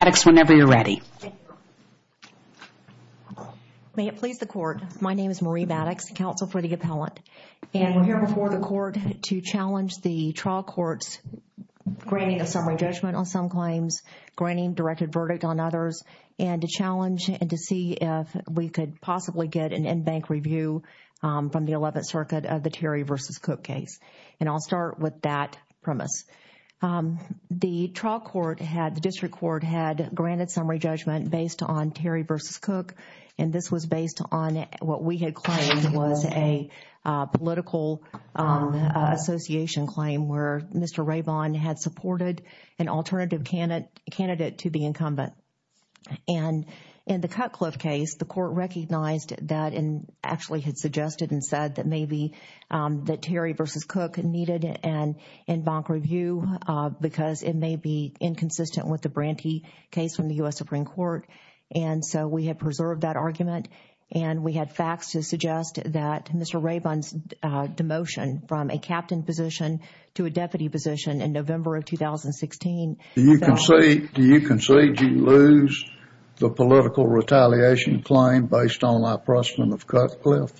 Maddox whenever you're ready. May it please the court my name is Marie Maddox counsel for the appellant and we're here before the court to challenge the trial courts granting a summary judgment on some claims granting directed verdict on others and to challenge and to see if we could possibly get an in-bank review from the 11th circuit of the Terry versus Cook case and I'll start with that premise. The trial court had the district court had granted summary judgment based on Terry versus Cook and this was based on what we had claimed was a political association claim where Mr. Rabon had supported an alternative candidate to be incumbent and in the Cutcliffe case the court recognized that and actually had suggested and said that maybe that Terry versus Cook needed an in-bank review because it may be inconsistent with the Branty case from the US Supreme Court and so we had preserved that argument and we had facts to suggest that Mr. Rabon's demotion from a captain position to a deputy position in November of 2016. Do you concede you lose the political retaliation claim based on my precedent of Cutcliffe?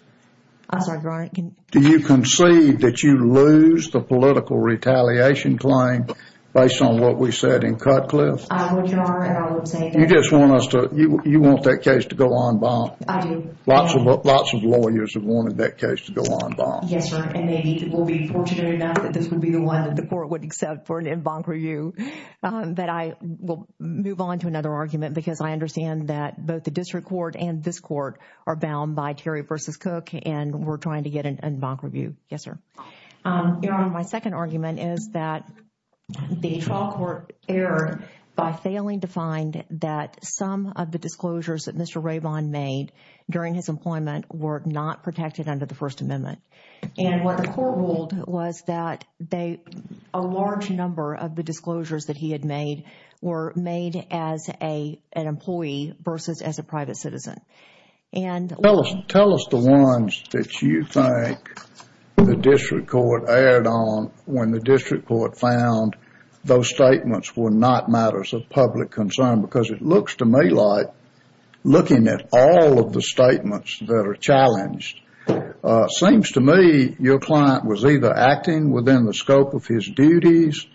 Do you concede that you lose the political retaliation claim based on what we said in Cutcliffe? You just want us to you want that case to go on bond? I do. Lots of lawyers have wanted that case to go on bond. Yes sir, and maybe we'll be fortunate enough that this would be the one that the court would accept for an in-bank review that I will move on to another argument because I understand that both the district court and this court are bound by Terry versus Cook and we're trying to get an in-bank review. Yes sir. Your Honor, my second argument is that the trial court erred by failing to find that some of the disclosures that Mr. Rabon made during his employment were not protected under the First Amendment and what the court ruled was that a large number of the disclosures that he had made were made as an employee versus as a private citizen. Tell us the ones that you think the district court erred on when the district court found those statements were not matters of public concern because it looks to me like looking at all of the statements that are challenged seems to me your client was either acting within the scope of his duties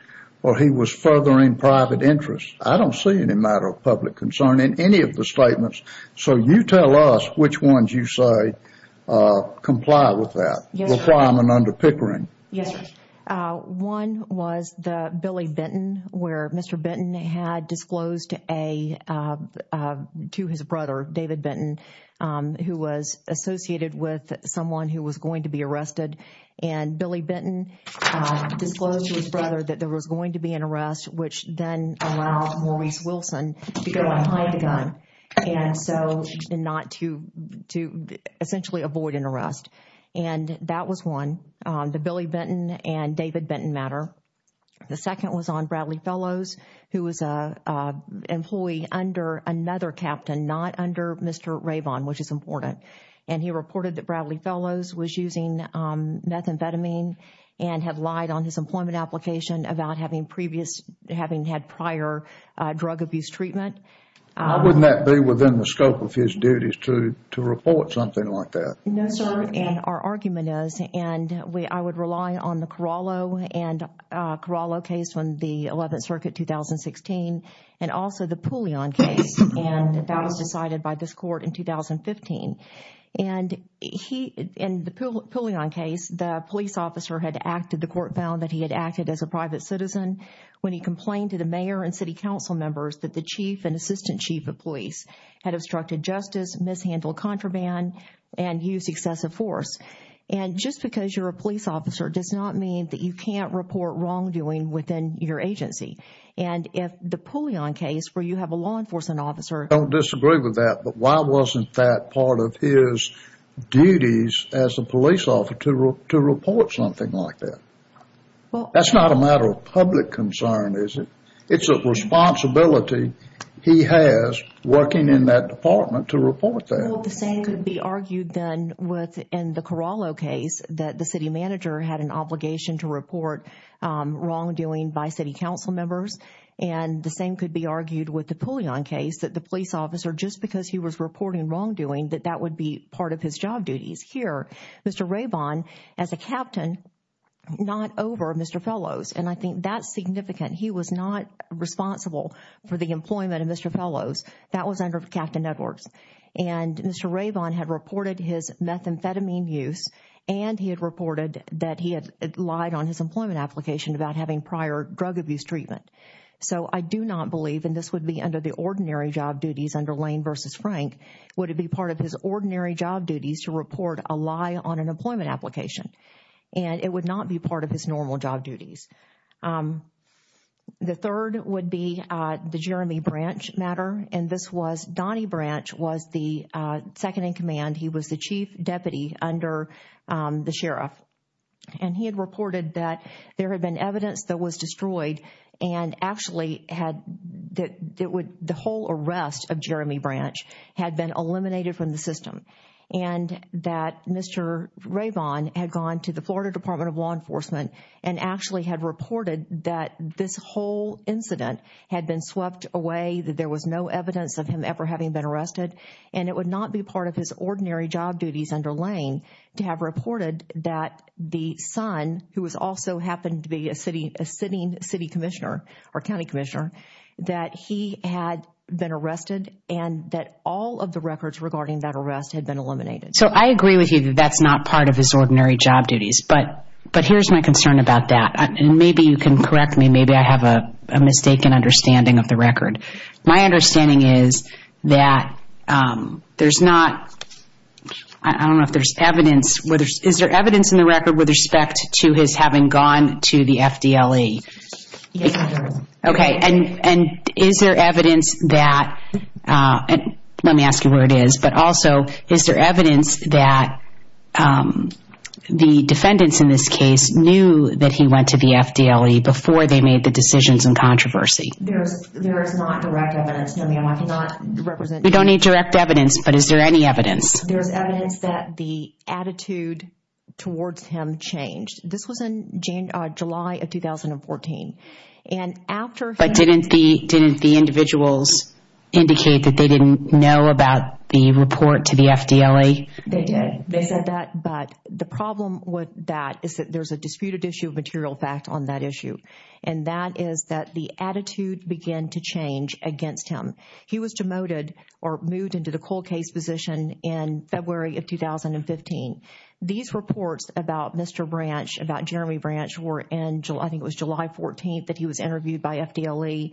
or he was furthering private interest. I don't see any matter of the statements. So you tell us which ones you say comply with that requirement under Pickering. Yes sir. One was the Billy Benton where Mr. Benton had disclosed to his brother David Benton who was associated with someone who was going to be arrested and Billy Benton disclosed to his brother that there was going to be an to go behind a gun and so not to essentially avoid an arrest and that was one the Billy Benton and David Benton matter. The second was on Bradley Fellows who was a employee under another captain not under Mr. Rabon which is important and he reported that Bradley Fellows was using methamphetamine and had lied on his drug abuse treatment. Why wouldn't that be within the scope of his duties to report something like that? No sir and our argument is and I would rely on the Corallo and Corallo case from the 11th Circuit 2016 and also the Pouillon case and that was decided by this court in 2015 and he in the Pouillon case the police officer had acted the court found that he had acted as a private citizen when he complained to the mayor and city council members that the chief and assistant chief of police had obstructed justice, mishandled contraband and used excessive force and just because you're a police officer does not mean that you can't report wrongdoing within your agency and if the Pouillon case where you have a law enforcement officer. I don't disagree with that but why wasn't that part of his duties as a police officer to report something like that? That's not a matter of public concern is it? It's a responsibility he has working in that department to report that. Well the same could be argued then within the Corallo case that the city manager had an obligation to report wrongdoing by city council members and the same could be argued with the Pouillon case that the police officer just because he was reporting wrongdoing that that would be part of his job duties. Here Mr. Raybon as a captain not over Mr. Fellows and I think that's significant he was not responsible for the employment of Mr. Fellows that was under Captain Edwards and Mr. Raybon had reported his methamphetamine use and he had reported that he had lied on his employment application about having prior drug abuse treatment so I do not believe and this would be under the ordinary job duties under Lane versus Frank would it be part of his ordinary job duties to report a lie on an The third would be the Jeremy Branch matter and this was Donnie Branch was the second-in-command he was the chief deputy under the sheriff and he had reported that there had been evidence that was destroyed and actually had that it would the whole arrest of Jeremy Branch had been eliminated from the system and that Mr. Raybon had gone to the Florida Department of Law actually had reported that this whole incident had been swept away that there was no evidence of him ever having been arrested and it would not be part of his ordinary job duties under Lane to have reported that the son who was also happened to be a city a sitting City Commissioner or County Commissioner that he had been arrested and that all of the records regarding that arrest had been eliminated so I agree with you that's not part of his ordinary job duties but here's my concern about that and maybe you can correct me maybe I have a mistaken understanding of the record my understanding is that there's not I don't know if there's evidence whether is there evidence in the record with respect to his having gone to the FDLE okay and and is there evidence that and let me ask you where it is but also is there evidence that the defendants in this case knew that he went to the FDLE before they made the decisions and controversy we don't need direct evidence but is there any evidence there's evidence that the attitude towards him changed this was in June July of 2014 and after but didn't the didn't the individuals indicate that they didn't know about the report to the FDLE they did they said that but the there's a disputed issue of material fact on that issue and that is that the attitude began to change against him he was demoted or moved into the cold case position in February of 2015 these reports about mr. branch about Jeremy branch were in July I think it was July 14th that he was interviewed by FDLE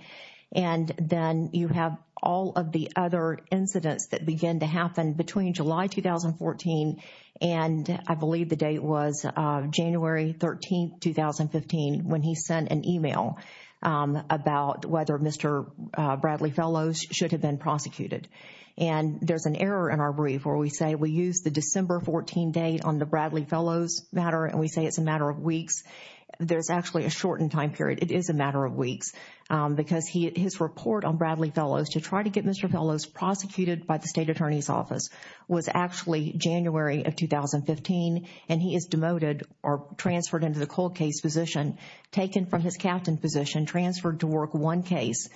and then you have all of the other incidents that begin to happen between July 2014 and I believe the date was January 13 2015 when he sent an email about whether mr. Bradley fellows should have been prosecuted and there's an error in our brief where we say we use the December 14 date on the Bradley fellows matter and we say it's a matter of weeks there's actually a shortened time period it is a matter of weeks because he his report on Bradley fellows to try to get mr. fellows prosecuted by the state attorney's office was actually January of 2015 and he is demoted or transferred into the cold case position taken from his captain position transferred to work one case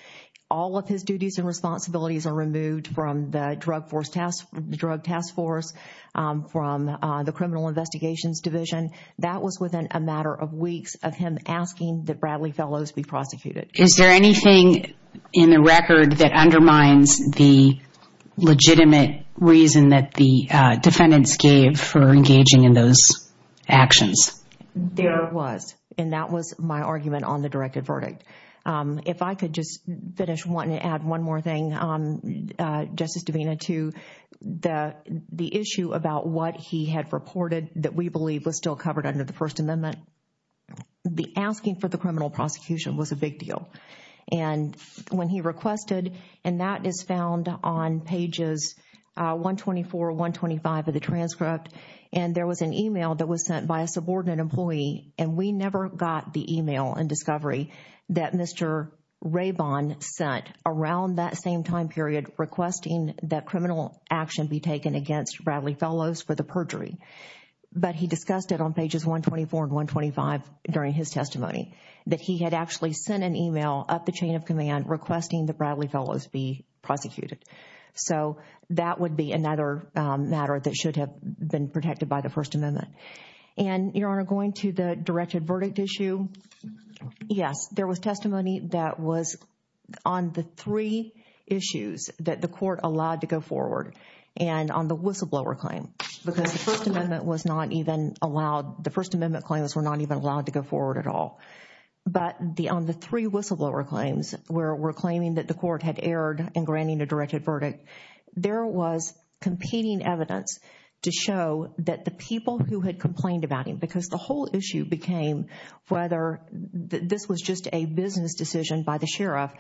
all of his duties and responsibilities are removed from the drug force test the drug task force from the criminal investigations division that was within a matter of weeks of him asking that Bradley fellows be prosecuted is there anything in the mind's the legitimate reason that the defendants gave for engaging in those actions there was and that was my argument on the directed verdict if I could just finish wanting to add one more thing justice Davina to the the issue about what he had reported that we believe was still covered under the First Amendment the asking for the criminal prosecution was a big deal and when he requested and that is found on pages 124 125 of the transcript and there was an email that was sent by a subordinate employee and we never got the email and discovery that mr. Ray bond sent around that same time period requesting that criminal action be taken against Bradley fellows for the perjury but he discussed it on pages 124 and 125 during his testimony that he had actually sent an email up the chain of command requesting the Bradley fellows be prosecuted so that would be another matter that should have been protected by the First Amendment and your honor going to the directed verdict issue yes there was testimony that was on the three issues that the court allowed to go forward and on the whistleblower claim because the First Amendment was not even allowed the First Amendment claims were not even allowed to go forward at all but the on the three whistleblower claims where we're claiming that the court had erred in granting a directed verdict there was competing evidence to show that the people who had complained about him because the whole issue became whether this was just a business decision by the sheriff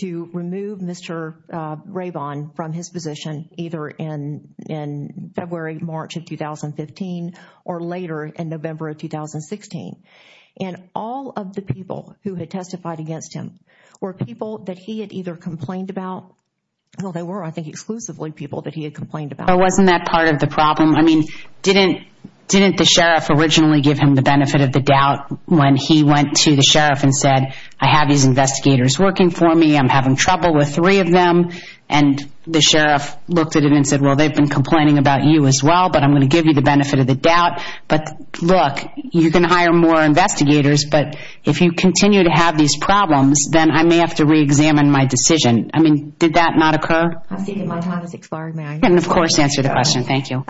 to remove mr. Ray bond from his position either in in February March of 2015 or later in November of 2016 and all of the people who had testified against him were people that he had either complained about well they were I think exclusively people that he had complained about wasn't that part of the problem I mean didn't didn't the sheriff originally give him the benefit of the doubt when he went to the sheriff and said I have these investigators working for me I'm having trouble with three of them and the sheriff looked at it and well they've been complaining about you as well but I'm gonna give you the benefit of the doubt but look you can hire more investigators but if you continue to have these problems then I may have to re-examine my decision I mean did that not occur and of course answer the question thank you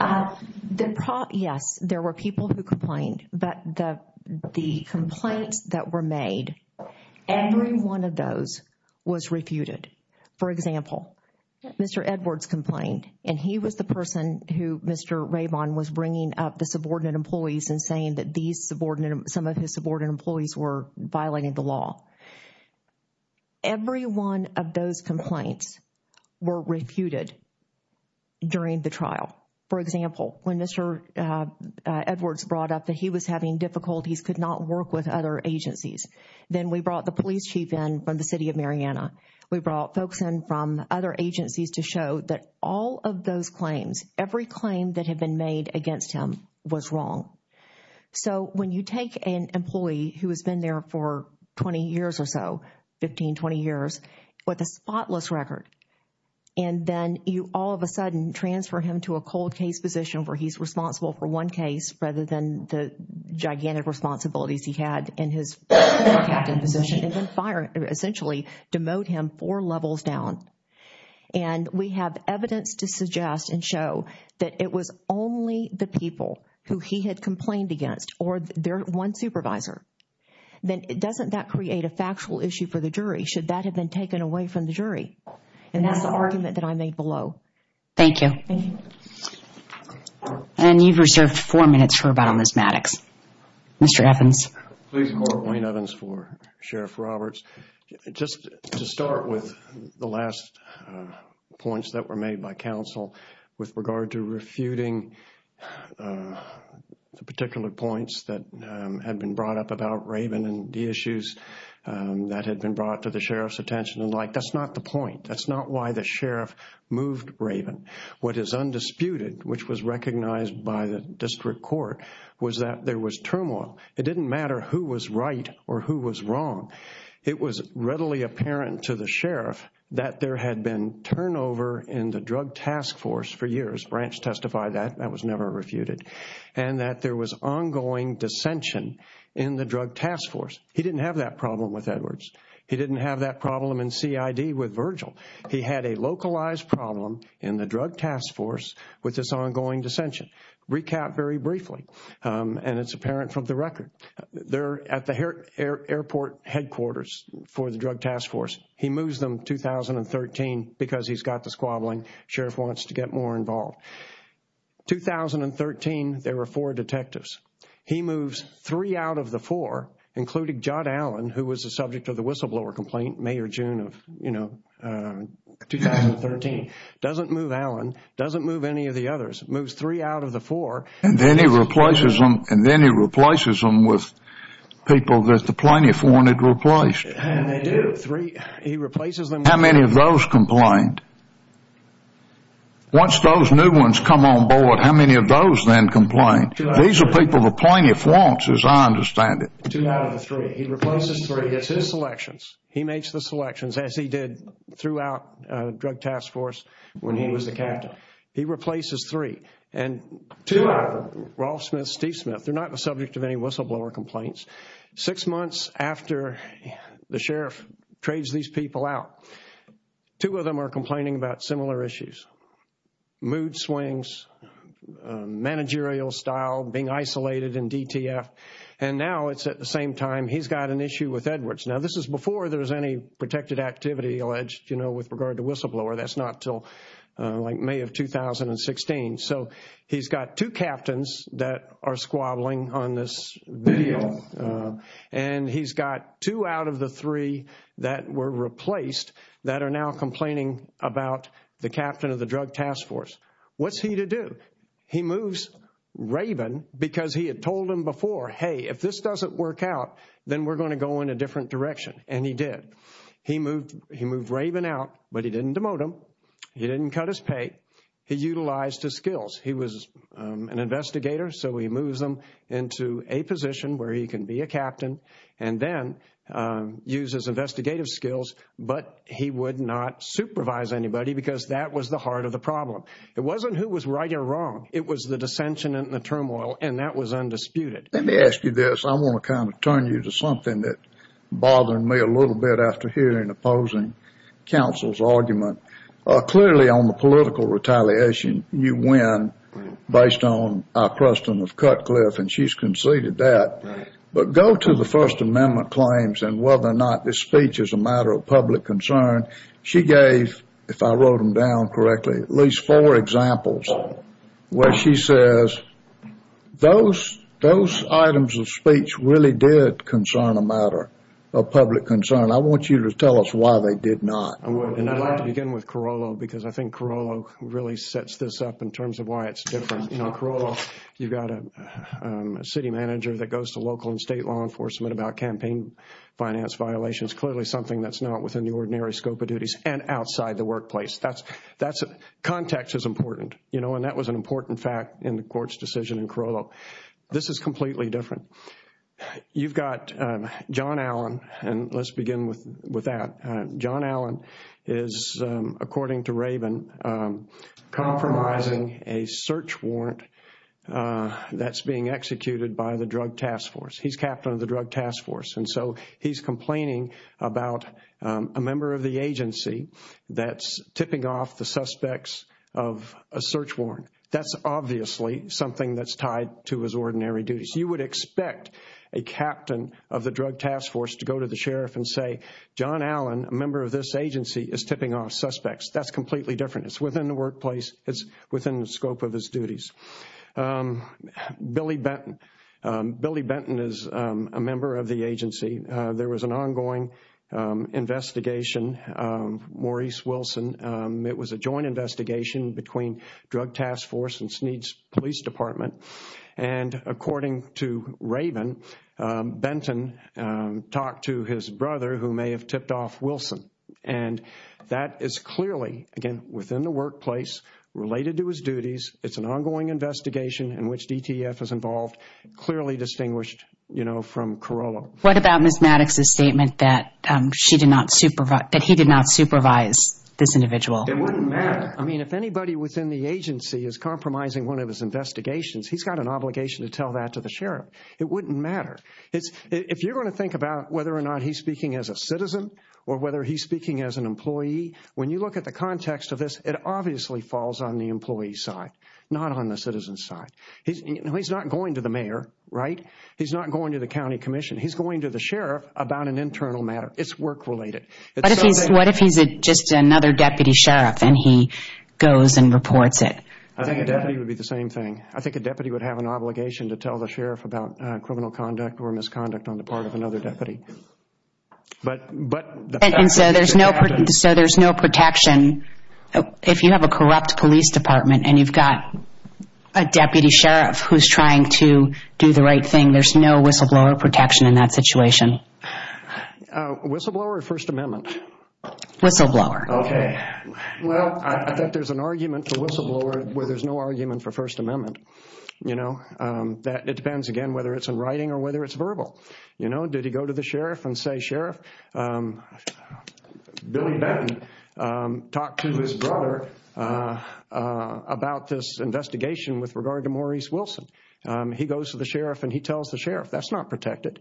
yes there were people who complained but the the complaints that were made every one of those was refuted for example mr. Edwards complained and he was the person who mr. Ray bond was bringing up the subordinate employees and saying that these subordinate some of his subordinate employees were violating the law every one of those complaints were refuted during the trial for example when mr. Edwards brought up that he was having difficulties could not work with other agencies then we brought the police chief in from the city of Mariana we brought folks in from other agencies to show that all of those claims every claim that had been made against him was wrong so when you take an employee who has been there for 20 years or so 15 20 years with a spotless record and then you all of a sudden transfer him to a cold case position where he's responsible for one case rather than the gigantic responsibilities he had in his fire essentially demote him four levels down and we have evidence to suggest and show that it was only the people who he had complained against or their one supervisor then it doesn't that create a factual issue for the jury should that have been taken away from the jury and that's the argument that I made below thank you and you've reserved four mr. Evans for sheriff Roberts just to start with the last points that were made by counsel with regard to refuting the particular points that had been brought up about Raven and the issues that had been brought to the sheriff's attention and like that's not the point that's not why the sheriff moved Raven what is undisputed which was recognized by the district court was that there was turmoil it didn't matter who was right or who was wrong it was readily apparent to the sheriff that there had been turnover in the drug task force for years branch testified that that was never refuted and that there was ongoing dissension in the drug task force he didn't have that problem with Edwards he didn't have that problem in CID with Virgil he had a localized problem in the drug task force with this ongoing dissension recap very briefly and it's apparent from the record they're at the airport headquarters for the drug task force he moves them 2013 because he's got the squabbling sheriff wants to get more involved 2013 there were four detectives he moves three out of the four including John Allen who was the subject of the whistleblower complaint May or June of you know 2013 doesn't move Allen doesn't move any of the others moves three out of the four and then he replaces them and then he replaces them with people that the plaintiff wanted replaced how many of those complained once those new ones come on board how many of those then complained these are people the plaintiff wants as I understand it three he replaces three gets his selections he makes the selections as he did throughout drug task force when he was the captain he replaces three and two of them Rolf Smith Steve Smith they're not the subject of any whistleblower complaints six months after the sheriff trades these people out two of them are complaining about similar issues mood swings managerial style being isolated in DTF and now it's at the same time he's got an issue with Edwards now this is before there's any protected activity alleged you know with regard to whistleblower that's not till like May of 2016 so he's got two captains that are squabbling on this video and he's got two out of the three that were replaced that are now complaining about the captain of the drug task force what's he to do he moves Raven because he had told him before hey if this doesn't work out then we're going to go in a different direction and he did he moved he moved Raven out but he didn't demote him he didn't cut his pay he utilized his skills he was an investigator so he moves them into a position where he can be a captain and then uses investigative skills but he would not supervise anybody because that was the heart of the problem it wasn't who was right or wrong it was the dissension and the turmoil and that was undisputed let me ask you this I want to kind of turn you to something that bothered me a little bit after hearing opposing counsel's argument clearly on the political retaliation you win based on our custom of Cutcliffe and she's conceded that but go to the First Amendment claims and whether or not this speech is a matter of public concern she gave if I wrote them down correctly at least four examples where she says those those items of speech really did concern a matter of public concern I want you to tell us why they did not begin with Carollo because I think Carollo really sets this up in terms of why it's different you know Carollo you've got a city manager that goes to local and violations clearly something that's not within the ordinary scope of duties and outside the workplace that's that's a context is important you know and that was an important fact in the court's decision in Carollo this is completely different you've got John Allen and let's begin with with that John Allen is according to Raven compromising a search warrant that's being executed by the police and complaining about a member of the agency that's tipping off the suspects of a search warrant that's obviously something that's tied to his ordinary duties you would expect a captain of the Drug Task Force to go to the sheriff and say John Allen a member of this agency is tipping off suspects that's completely different it's within the workplace it's within the scope of his duties Billy Benton Billy Benton is a member of the agency there was an ongoing investigation Maurice Wilson it was a joint investigation between Drug Task Force and Sneed's Police Department and according to Raven Benton talked to his brother who may have tipped off Wilson and that is clearly again within the workplace related to his duties it's an ongoing investigation in which DTF is involved clearly distinguished you know from Carollo. What about Miss Maddox's statement that she did not supervise, that he did not supervise this individual? I mean if anybody within the agency is compromising one of his investigations he's got an obligation to tell that to the sheriff it wouldn't matter it's if you're going to think about whether or not he's speaking as a citizen or whether he's speaking as an employee when you look at the context of this it obviously falls on the employee side not on the citizen side he's not going to the mayor right he's not going to the County Commission he's going to the sheriff about an internal matter it's work-related. What if he's just another deputy sheriff and he goes and reports it? I think it would be the same thing I think a deputy would have an obligation to tell the sheriff about criminal conduct or misconduct on the part of another deputy but but there's no so there's no protection if you have a corrupt police department and you've got a deputy sheriff who's trying to do the right thing there's no whistleblower protection in that situation. Whistleblower or First Amendment? Whistleblower. Okay well I think there's an argument for whistleblower where there's no argument for First Amendment you know that it depends again whether it's in writing or whether it's verbal you know did he go to the sheriff and say sheriff Billy Benton talked to his brother about this investigation with regard to Maurice Wilson he goes to the sheriff and he tells the sheriff that's not protected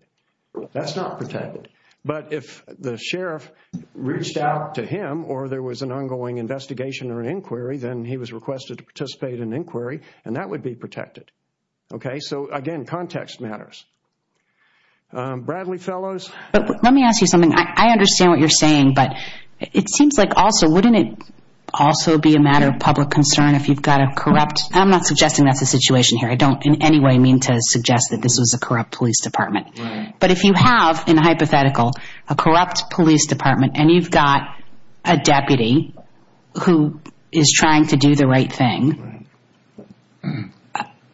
that's not protected but if the sheriff reached out to him or there was an ongoing investigation or inquiry then he was requested to participate in inquiry and that would be protected. Okay so again context matters. Bradley Fellows? Let me ask you something I understand what you're saying but it seems like also wouldn't it also be a matter of public concern if you've got a corrupt I'm not suggesting that's a situation here I don't in any way mean to suggest that this was a corrupt Police Department but if you have in hypothetical a corrupt Police Department and you've got a deputy who is trying to do the right thing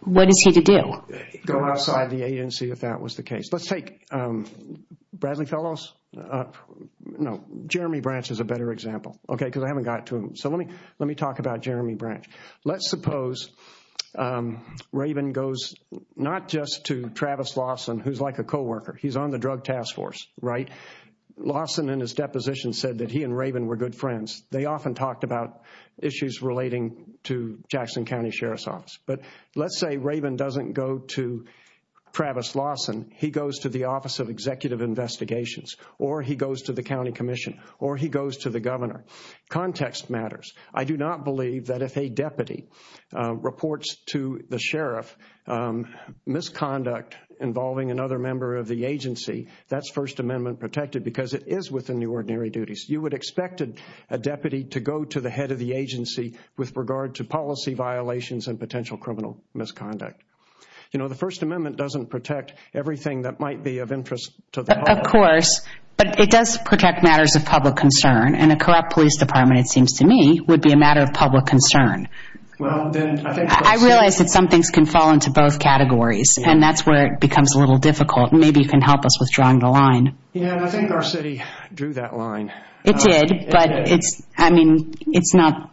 what is he to do? Go outside the agency if that was the case. Let's take Bradley Fellows no Jeremy Branch is a better example okay because I haven't got to him so let me let me talk about Jeremy Branch let's suppose Raven goes not just to Travis Lawson who's like a co-worker he's on the drug task force right Lawson in his deposition said that he and Raven were good friends they often talked about issues relating to Jackson County Sheriff's Office but let's say Raven doesn't go to Travis Lawson he goes to the Office of Executive Investigations or he goes to the County Commission or he goes to the governor context matters I do not believe that if a deputy reports to the sheriff misconduct involving another member of the agency that's First Amendment protected because it is within the ordinary duties you would expect a deputy to go to the head of the agency with regard to policy violations and potential criminal misconduct you know the First Amendment doesn't protect everything that might be of interest to the of course but it does protect matters of public concern and a corrupt Police Department it seems to me would be a matter of public concern well I realize that some things can fall into both categories and that's where it becomes a little difficult maybe you can help us with drawing the line yeah I think Garcetti drew that line it did but it's I mean it's not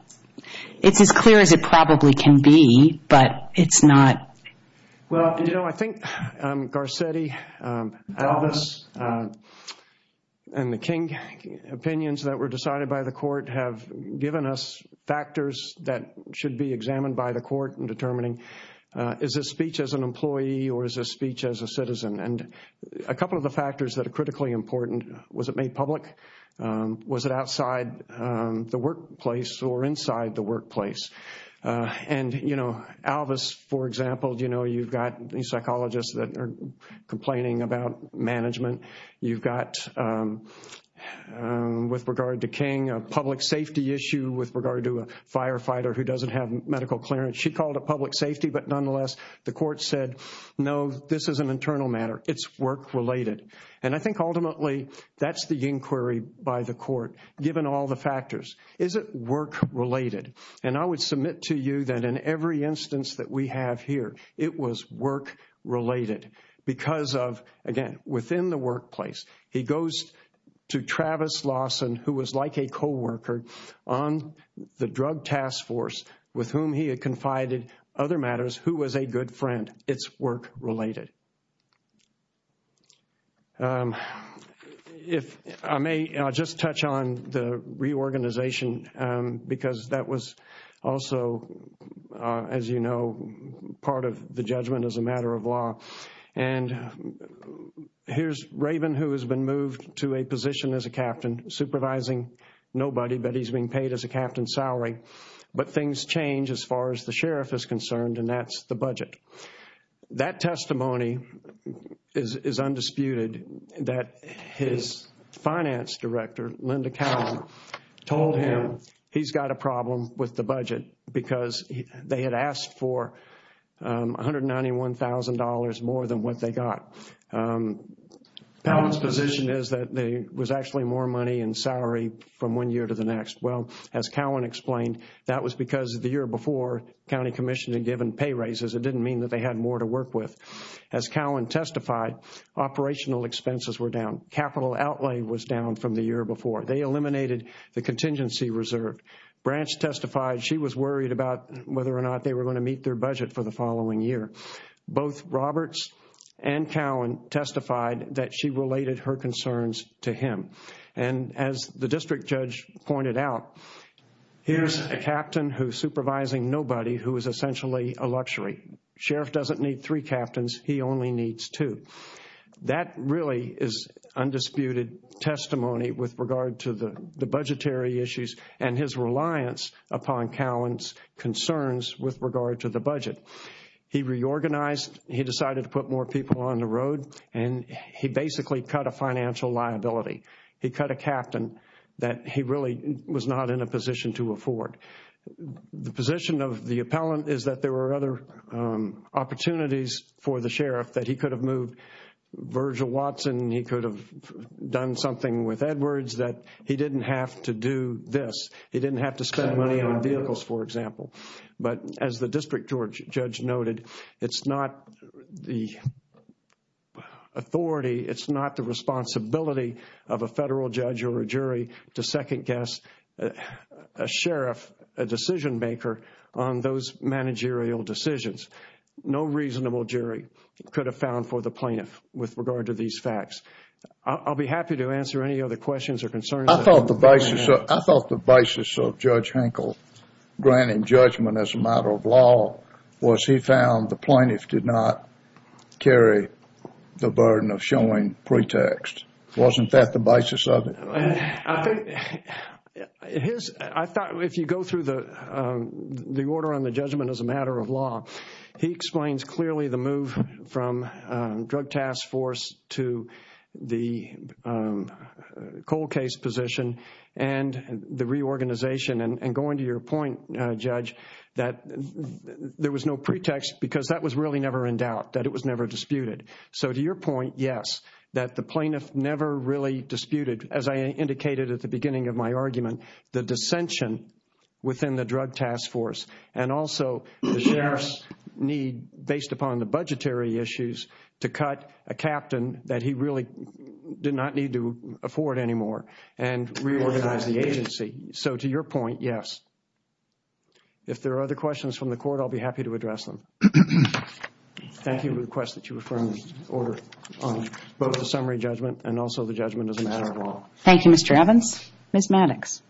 it's as clear as it probably can be but it's not well you know I think Garcetti Elvis and the King opinions that were decided by the court have given us factors that should be examined by the court in determining is this speech as an employee or is a speech as a citizen and a couple of the factors that are critically important was it made public was it outside the workplace or inside the workplace and you know Elvis for example do you know you've got these psychologists that are complaining about management you've got with regard to King a public safety issue with regard to a firefighter who doesn't have medical clearance she called a public safety but nonetheless the court said no this is an internal matter it's work related and I think ultimately that's the inquiry by the court given all the factors is it work related and I would submit to you that in every instance that we have here it was work related because of again within the workplace he goes to Travis Lawson who was like a co-worker on the drug task force with whom he had confided other matters who was a good friend it's work related if I may just touch on the reorganization because that was also as you know part of the judgment as a matter of law and here's Raven who has been moved to a position as a captain supervising nobody but he's being paid as a captain salary but things change as far as the sheriff is concerned and that's the budget that testimony is undisputed that his finance director Linda Cowan told him he's got a $91,000 more than what they got position is that there was actually more money and salary from one year to the next well as Cowan explained that was because of the year before County Commission had given pay raises it didn't mean that they had more to work with as Cowan testified operational expenses were down capital outlay was down from the year before they eliminated the contingency reserve branch testified she was worried about whether or not they were going to both Roberts and Cowan testified that she related her concerns to him and as the district judge pointed out here's a captain who's supervising nobody who is essentially a luxury sheriff doesn't need three captains he only needs two that really is undisputed testimony with regard to the the budgetary issues and his reliance upon Cowan's concerns with regard to the budget he reorganized he decided to put more people on the road and he basically cut a financial liability he cut a captain that he really was not in a position to afford the position of the appellant is that there were other opportunities for the sheriff that he could have moved Virgil Watson he could have done something with he didn't have to spend money on vehicles for example but as the district George judge noted it's not the authority it's not the responsibility of a federal judge or a jury to second-guess a sheriff a decision maker on those managerial decisions no reasonable jury could have found for the plaintiff with regard to these facts I'll be happy to answer any other questions or concerns I thought the basis of I thought the basis of judge Henkel granting judgment as a matter of law was he found the plaintiff did not carry the burden of showing pretext wasn't that the basis of it if you go through the the order on the judgment as a matter of law he explains clearly the move from drug task force to the cold case position and the reorganization and going to your point judge that there was no pretext because that was really never in doubt that it was never disputed so to your point yes that the plaintiff never really disputed as I indicated at the beginning of my argument the dissension within the drug task force and also the sheriff's need based upon the budgetary issues to cut a captain that he really did not need to afford anymore and reorganize the agency so to your point yes if there are other questions from the court I'll be happy to address them thank you request that you refer me order on both the summary judgment and also the judgment as a matter of law thank you mr. Evans miss Maddox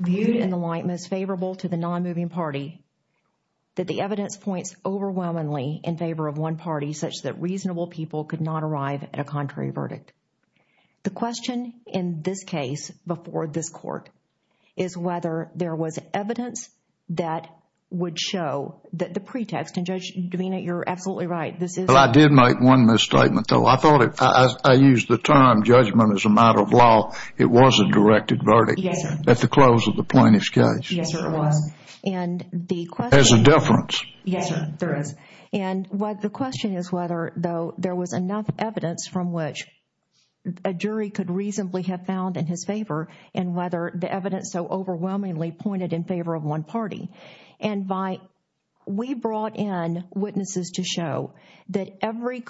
viewed in the light most favorable to the non-moving party that the evidence points overwhelmingly in favor of one party such that reasonable people could not arrive at a contrary verdict the question in this case before this court is whether there was evidence that would show that the pretext and judge demeanor you're absolutely right this is I did make one misstatement though I thought it I used the term judgment as a matter of law it was a directed verdict at the close of the plaintiff's case and the difference yes there is and what the question is whether though there was enough evidence from which a jury could reasonably have found in his favor and whether the evidence so overwhelmingly pointed in favor of one party and by we brought in witnesses to show that every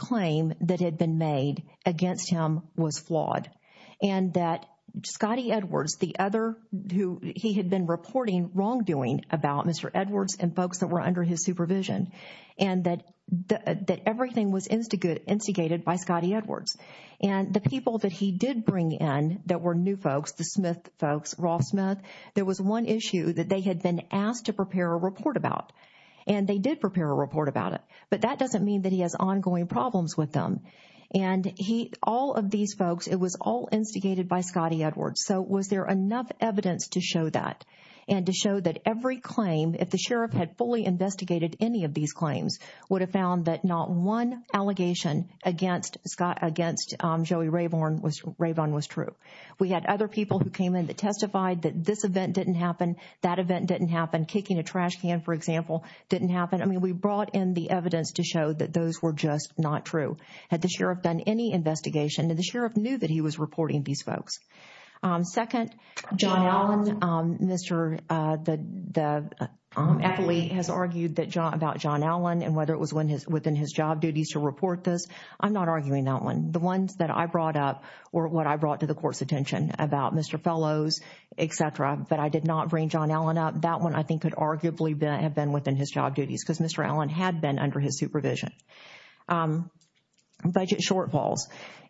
he had been reporting wrongdoing about mr. Edwards and folks that were under his supervision and that that everything was instigated instigated by Scotty Edwards and the people that he did bring in that were new folks the Smith folks Ross Smith there was one issue that they had been asked to prepare a report about and they did prepare a report about it but that doesn't mean that he has ongoing problems with them and he all of these folks it was all instigated by evidence to show that and to show that every claim if the sheriff had fully investigated any of these claims would have found that not one allegation against Scott against Joey Rayburn was Rayburn was true we had other people who came in that testified that this event didn't happen that event didn't happen kicking a trash can for example didn't happen I mean we brought in the evidence to show that those were just not true had the sheriff done any investigation and the sheriff knew that he was reporting these folks second John Allen mr. the athlete has argued that John about John Allen and whether it was when his within his job duties to report this I'm not arguing that one the ones that I brought up or what I brought to the court's attention about mr. fellows etc but I did not bring John Allen up that one I think could arguably been have been within his job duties because mr. Allen had been under his supervision budget shortfalls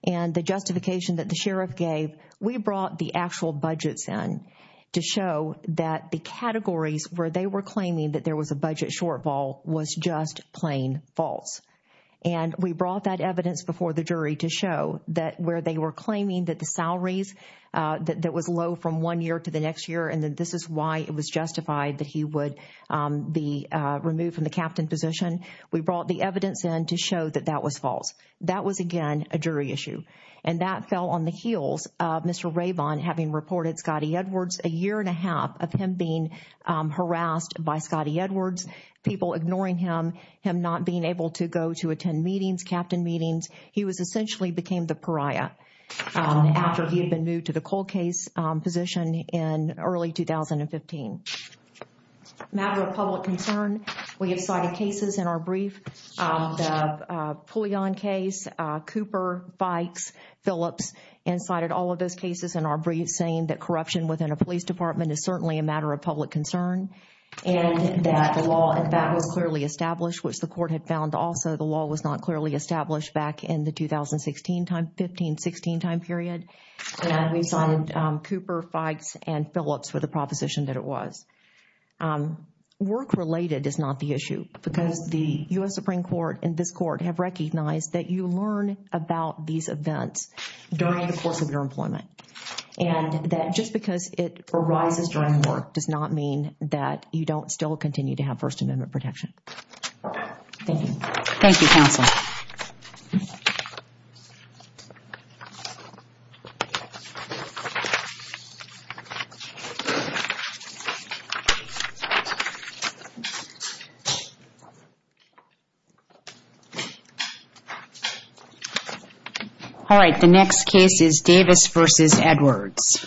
and the justification that the sheriff gave we brought the actual budgets in to show that the categories where they were claiming that there was a budget shortfall was just plain false and we brought that evidence before the jury to show that where they were claiming that the salaries that was low from one year to the next year and then this is why it was justified that he would be removed from the captain position we brought the evidence in to show that that was false that was again a jury issue and that fell on the heels of mr. Ray bond having reported Scotty Edwards a year and a half of him being harassed by Scotty Edwards people ignoring him him not being able to go to attend meetings captain meetings he was essentially became the pariah after he public concern we have cited cases in our brief fully on case Cooper bikes Phillips and cited all of those cases in our brief saying that corruption within a police department is certainly a matter of public concern and that the law and that was clearly established which the court had found also the law was not clearly established back in the 2016 time 1516 time period and we was work related is not the issue because the US Supreme Court and this court have recognized that you learn about these events during the course of your employment and that just because it arises during work does not mean that you don't still continue to have First Amendment protection all right the next case is Davis versus Edwards